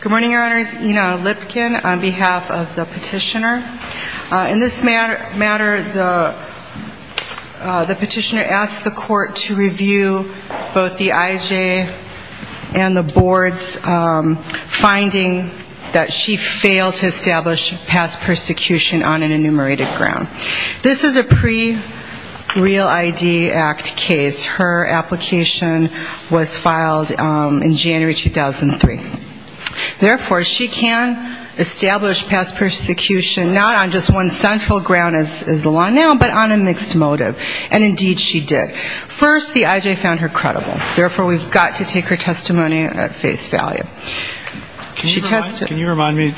Good morning, Your Honors. Ina Lipkin on behalf of the petitioner. In this matter, the petitioner asked the court to review both the IJ and the board's finding that she failed to establish past persecution on an enumerated ground. This is a pre-Real ID Act case. Her application was filed in January 2003. Therefore, she can establish past persecution not on just one central ground as the law now, but on a mixed motive. And indeed, she did. First, the IJ found her credible. Therefore, we've got to take her testimony at face value. Can you remind me,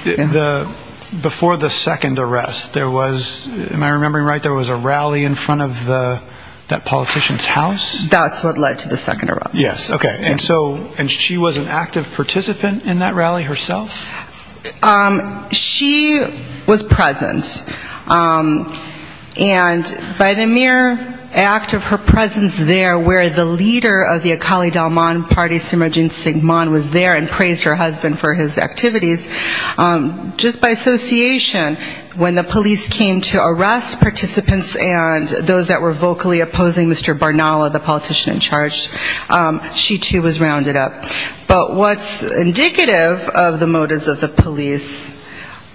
before the second arrest, there was, am I remembering right, there was a rally in front of the, that politician's house? That's what led to the second arrest. Yes, okay. And so, and she was an active participant in that rally herself? She was present. And by the mere act of her presence there where the leader of the Akali Dalman party, Simran Singh Mann, was there and praised her husband for his activities, just by association, when the police came to arrest participants and those that were vocally opposing Mr. Barnala, the politician in charge, she, too, was rounded up. But what's indicative of the motives of the police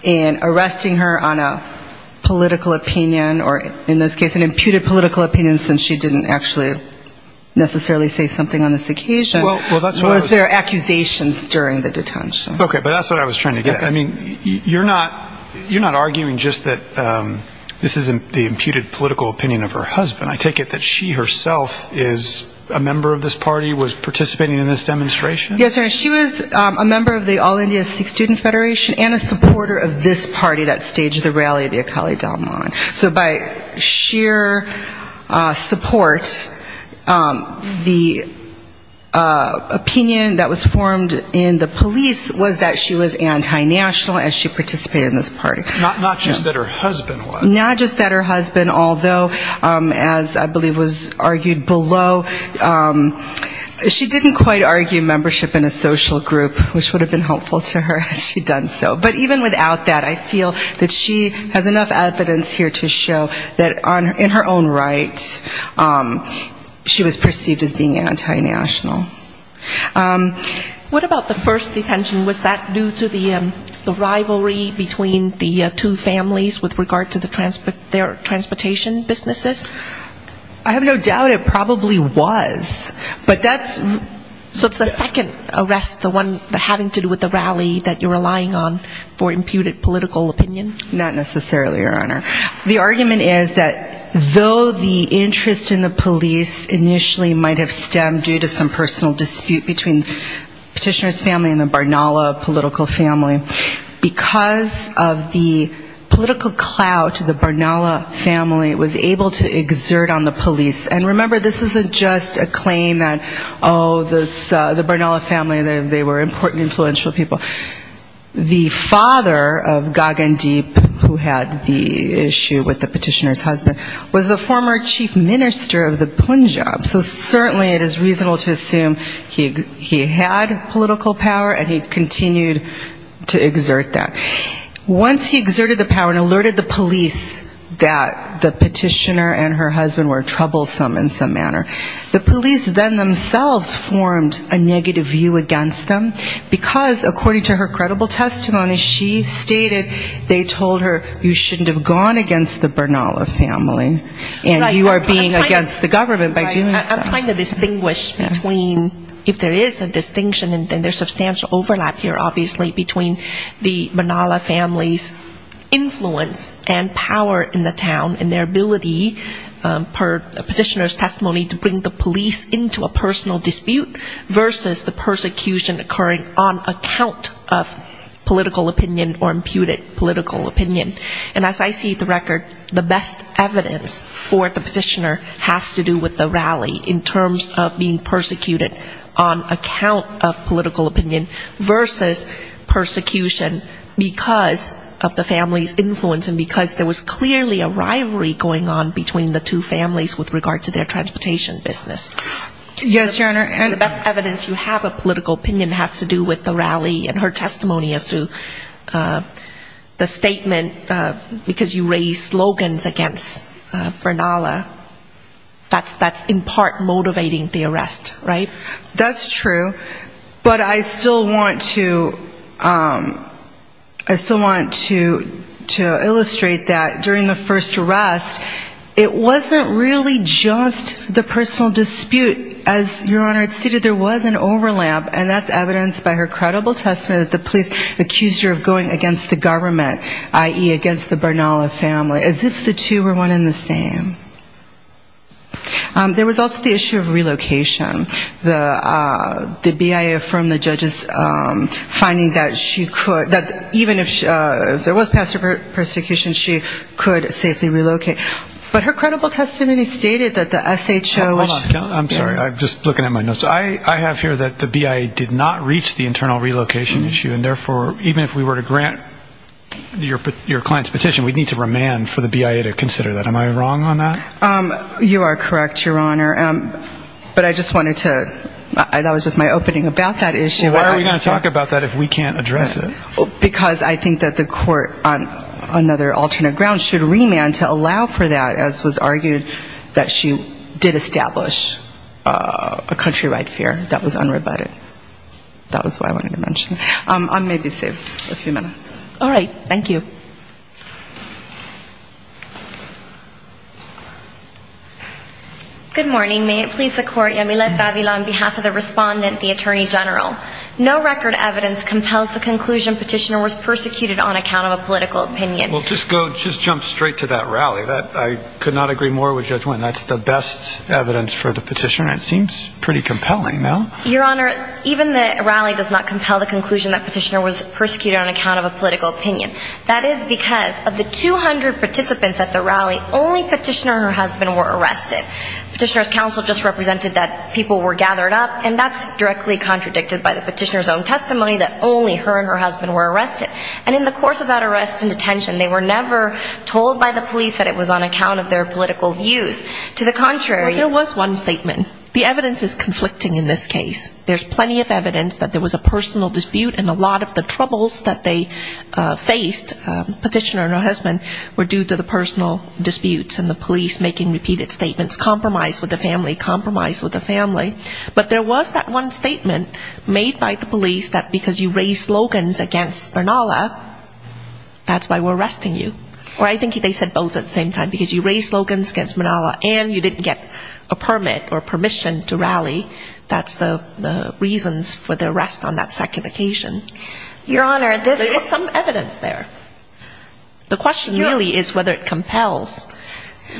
in arresting her on a political opinion, or in this case, an imputed political opinion, since she didn't actually necessarily say something on this occasion, was there accusations during the detention. Okay, but that's what I was trying to get at. I mean, you're not arguing just that this isn't the imputed political opinion of her husband. I take it that she herself is a member of this party, was participating in this demonstration? Yes, sir. She was a member of the All India Sikh Student Federation and a supporter of this party that staged the rally of the Akali Dalman. So by sheer support, the opinion that was formed in the police was that she was anti-national and she participated in this party. Not just that her husband was? Which would have been helpful to her had she done so. But even without that, I feel that she has enough evidence here to show that in her own right, she was perceived as being anti-national. What about the first detention? Was that due to the rivalry between the two families with regard to their transportation businesses? I have no doubt it probably was. But that's so it's the second arrest, the one having to do with the rally that you're relying on for imputed political opinion? Not necessarily, Your Honor. The argument is that though the interest in the police initially might have stemmed due to some personal dispute between Petitioner's family and the Barnala political family, because of the political clout of the Barnala family was able to exert on the police. And remember, this isn't just a claim that, oh, the Barnala family, they were important, influential people. The father of Gagandeep, who had the issue with the Petitioner's husband, was the former chief minister of the Punjab, so certainly it is reasonable to assume he had political power and he continued to exert that. Once he exerted the power and alerted the police that the Petitioner and her husband were troublesome in some manner, the police then themselves formed a negative view against them, because according to her credible testimony, she stated they told her you shouldn't have gone against the Barnala family and you are being against the government by doing so. I'm trying to distinguish between, if there is a distinction, and there's substantial overlap here, obviously, between the Barnala family's influence and power in the town and their ability, per Petitioner's testimony, to bring the police into a personal dispute versus the persecution occurring on account of political opinion or imputed political opinion. And as I see the record, the best evidence for the Petitioner has to do with the rally in terms of being persecuted on account of political opinion versus persecution because of the family's influence and because there was clearly a rivalry going on between the two families with regard to their transportation business. The best evidence you have of political opinion has to do with the rally and her testimony as to the statement because you raised slogans against Barnala, that's in part motivating the arrest, right? That's true, but I still want to illustrate that during the first arrest, it wasn't really just the personal dispute, as Your Honor had stated, there was an overlap and that's evidenced by her credible testimony that the police accused her of going against the government, i.e. against the Barnala family, as if the two were one and the same. There was also the issue of relocation. The BIA affirmed the judge's finding that she could, that even if there was pastor persecution, she could safely relocate. But her credible testimony stated that the SHO... You are correct, Your Honor. But I just wanted to, that was just my opening about that issue. Why are we going to talk about that if we can't address it? Because I think that the court on another alternate ground should remand to allow for that, as was argued, that she did establish a countrywide fair that was unrebutted. That was what I wanted to mention. I may be saved a few minutes. All right, thank you. Good morning. May it please the court, Yamile Tavila on behalf of the respondent, the Attorney General. No record evidence compels the conclusion Petitioner was persecuted on account of a political opinion. Well, just go, just jump straight to that rally. I could not agree more with Judge Wynn. That's the best evidence for the petition. It seems pretty compelling, no? Your Honor, even the rally does not compel the conclusion that Petitioner was persecuted on account of a political opinion. That is because of the 200 participants at the rally, only Petitioner and her husband were arrested. Petitioner's counsel just represented that people were gathered up, and that's directly contradicted by the Petitioner's own testimony that only her and her husband were arrested. And in the course of that arrest and detention, they were never told by the police that it was on account of their political views. To the contrary, Well, there was one statement. The evidence is conflicting in this case. There's plenty of evidence that there was a personal dispute, and a lot of the troubles that they faced, Petitioner and her husband, were due to the personal disputes and the police making repeated statements, compromise with the family, compromise with the family. But there was that one statement made by the police that because you raised slogans against Bernalla, that's why we're arresting you. Or I think they said both at the same time, because you raised slogans against Bernalla and you didn't get a permit or permission to rally, that's the reasons for the arrest on that second occasion. Your Honor, this There is some evidence there. The question really is whether it compels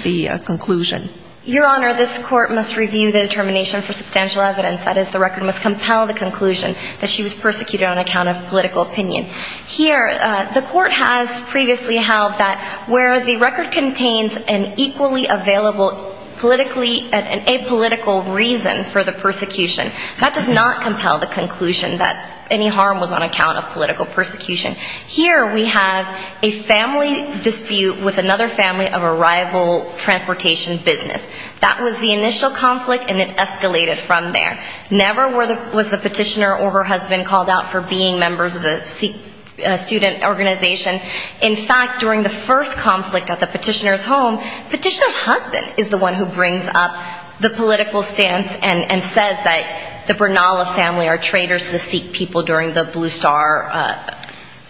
the conclusion. Your Honor, this court must review the determination for substantial evidence. That is, the record must compel the conclusion that she was persecuted on account of political opinion. Here, the court has previously held that where the record contains an equally available politically, an apolitical reason for the persecution, that does not compel the conclusion that any harm was on account of political persecution. Here, we have a family dispute with another family of a rival transportation business. That was the initial conflict, and it escalated from there. Never was the petitioner or her husband called out for being members of a student organization. In fact, during the first conflict at the petitioner's home, petitioner's husband is the one who brings up the political stance and says that the Bernalla family are traitors to the Sikh people during the Blue Star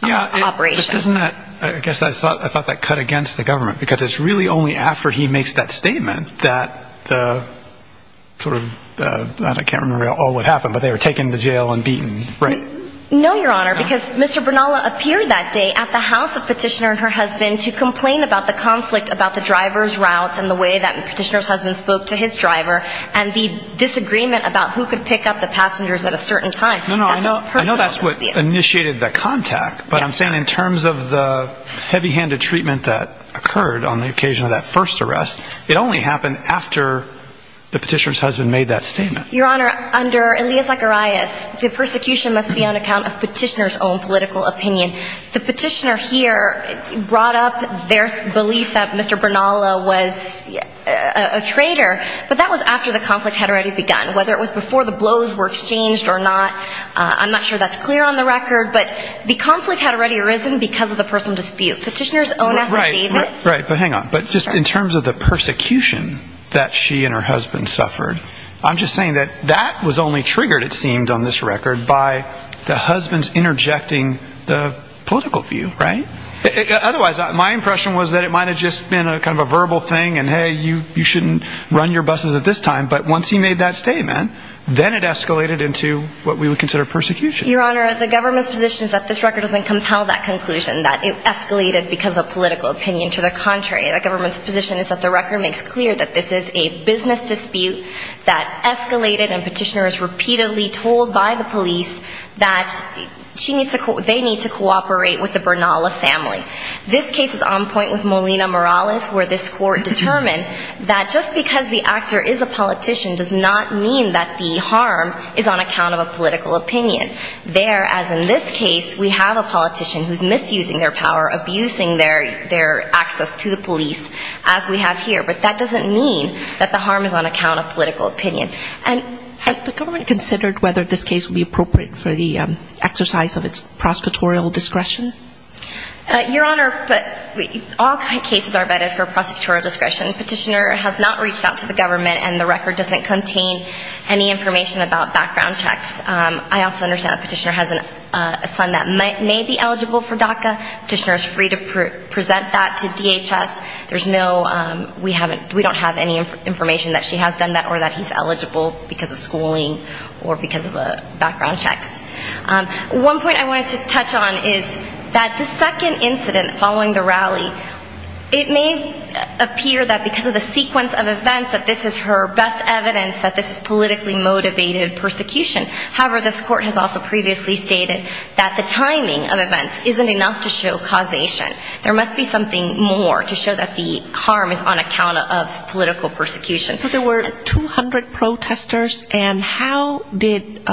operation. I guess I thought that cut against the government, because it's really only after he makes that statement that the sort of, I can't remember all what happened, but they were taken to jail and beaten, right? No, Your Honor, because Mr. Bernalla appeared that day at the house of petitioner and her husband to complain about the conflict about the driver's routes and the way that petitioner's husband spoke to his driver, and the disagreement about who could pick up the passengers at a certain time. I know that's what initiated the contact, but I'm saying in terms of the heavy-handed treatment that occurred on the occasion of that first arrest, it only happened after the petitioner's husband made that statement. Your Honor, under Elia Zacharias, the persecution must be on account of petitioner's own political opinion. The petitioner here brought up their belief that Mr. Bernalla was a traitor, but that was after the conflict had already begun. Whether it was before the blows were exchanged or not, I'm not sure that's clear on the record, but the conflict had already arisen because of the personal dispute. Petitioner's own affidavit. Right, but hang on. But just in terms of the persecution that she and her husband suffered, I'm just saying that that was only triggered, it seemed, on this record by the husband's interjecting the political view, right? Otherwise, my impression was that it might have just been a verbal thing and, hey, you shouldn't run your buses at this time, but once he made that statement, then it escalated into what we would consider persecution. Your Honor, the government's position is that this record doesn't compel that conclusion, that it escalated because of a political opinion. To the contrary, the government's position is that the record makes clear that this is a business dispute that escalated and petitioner is repeatedly told by the police that they need to cooperate with the Bernalla family. This case is on point with Molina Morales where this court determined that just because the actor is a politician does not mean that the harm is on account of a political opinion. There, as in this case, we have a politician who's misusing their power, abusing their access to the police, as we have here, but that doesn't mean that the harm is on account of political opinion. Has the government considered whether this case would be appropriate for the exercise of its prosecutorial discretion? Your Honor, all cases are vetted for prosecutorial discretion. Petitioner has not reached out to the government and the record doesn't contain any information about background checks. I also understand that petitioner has a son that may be eligible for DACA. Petitioner is free to present that to DHS. We don't have any information that she has done that or that he's eligible because of schooling or because of background checks. One point I wanted to touch on is that the second incident following the rally, it may appear that because of the sequence of events that this is her best evidence that this is politically motivated persecution. However, this court has also previously stated that the timing of events isn't enough to show causation. There must be something more to show that the harm is on account of political persecution. So there were 200 protesters and how did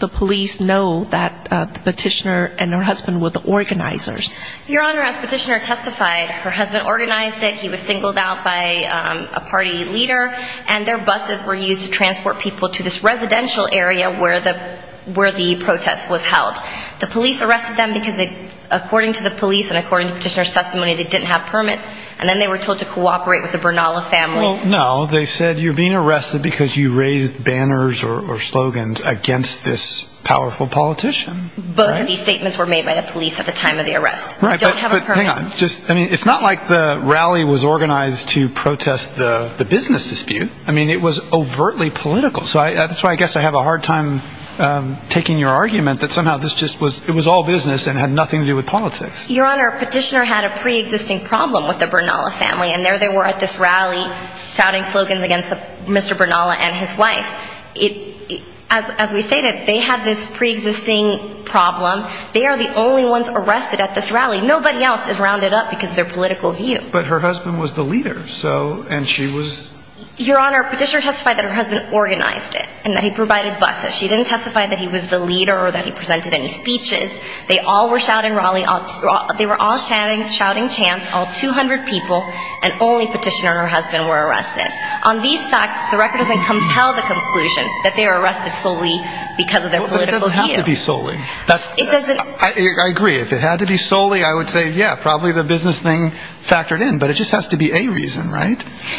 the police know that the petitioner and her husband were the organizers? Your Honor, as petitioner testified, her husband organized it. He was singled out by a party leader and their buses were used to transport people to this residential area where the protest was held. The police arrested them because according to the police and according to petitioner's testimony, they didn't have permits. And then they were told to cooperate with the Bernala family. No, they said you're being arrested because you raised banners or slogans against this powerful politician. Both of these statements were made by the police at the time of the arrest. It's not like the rally was organized to protest the business dispute. I mean, it was overtly political. So that's why I guess I have a hard time taking your argument that somehow this just was it was all business and had nothing to do with politics. Your Honor, petitioner had a pre-existing problem with the Bernala family. And there they were at this rally shouting slogans against Mr. Bernala and his wife. As we stated, they had this pre-existing problem. They are the only ones arrested at this rally. Nobody else is rounded up because their political view. But her husband was the leader. Your Honor, petitioner testified that her husband organized it and that he provided buses. She didn't testify that he was the leader or that he presented any speeches. They were all shouting chants. All 200 people and only petitioner and her husband were arrested. On these facts, the record doesn't compel the conclusion that they were arrested solely because of their political view. It doesn't have to be solely. I agree. If it had to be solely, I would say, yeah, probably the business thing factored in. But it just has to be a reason, right?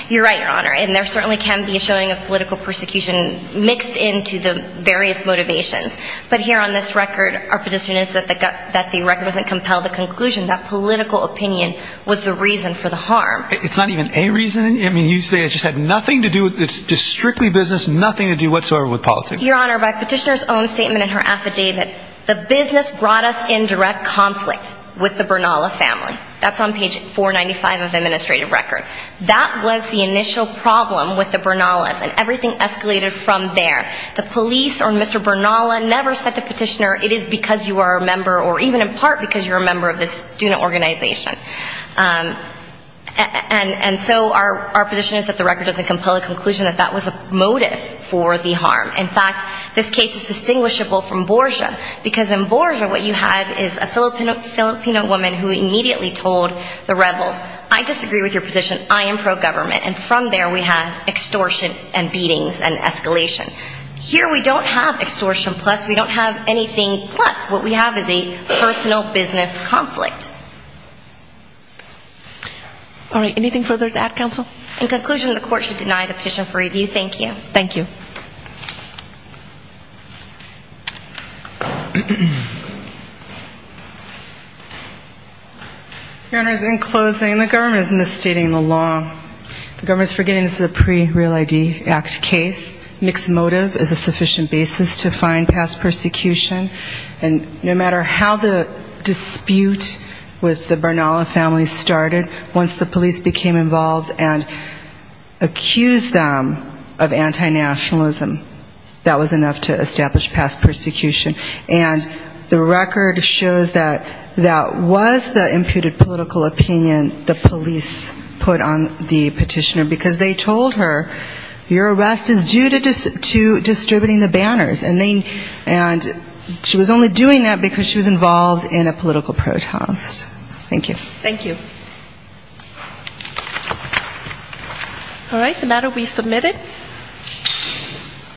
You're right, Your Honor. And there certainly can be a showing of political persecution mixed into the various motivations. But here on this record, our position is that the record doesn't compel the conclusion that political opinion was the reason for the harm. It's not even a reason? I mean, you say it just had nothing to do with strictly business, nothing to do whatsoever with politics. Your Honor, by petitioner's own statement in her affidavit, the business brought us in direct conflict with the Bernala family. That's on page 495 of the administrative record. That was the initial problem with the Bernalas, and everything escalated from there. The police or Mr. Bernala never said to petitioner, it is because you are a member, or even in part because you're a member of this student organization. And so our position is that the record doesn't compel the conclusion that that was a motive for the harm. In fact, this case is distinguishable from Borja, because in Borja what you had is a Filipino woman who immediately told the rebels, I disagree with your position. I am pro-government. And from there we have extortion and beatings and escalation. Here we don't have extortion plus. We don't have anything plus. What we have is a personal business conflict. All right. Anything further to add, counsel? In conclusion, the court should deny the petition for review. Thank you. Thank you. Your Honor, in closing, the government is misstating the law. The government is forgetting this is a pre-Real ID Act case. Mixed motive is a sufficient basis to find past persecution. And no matter how the dispute with the Bernala family started, once the police became involved and accused them of anti-nationalism, that was enough to establish past persecution. And the record shows that that was the imputed political opinion the police put on the petitioner, because they told her your arrest is due to distributing the banners. And she was only doing that because she was involved in a political protest. Thank you. Thank you. All right. The matter will be submitted.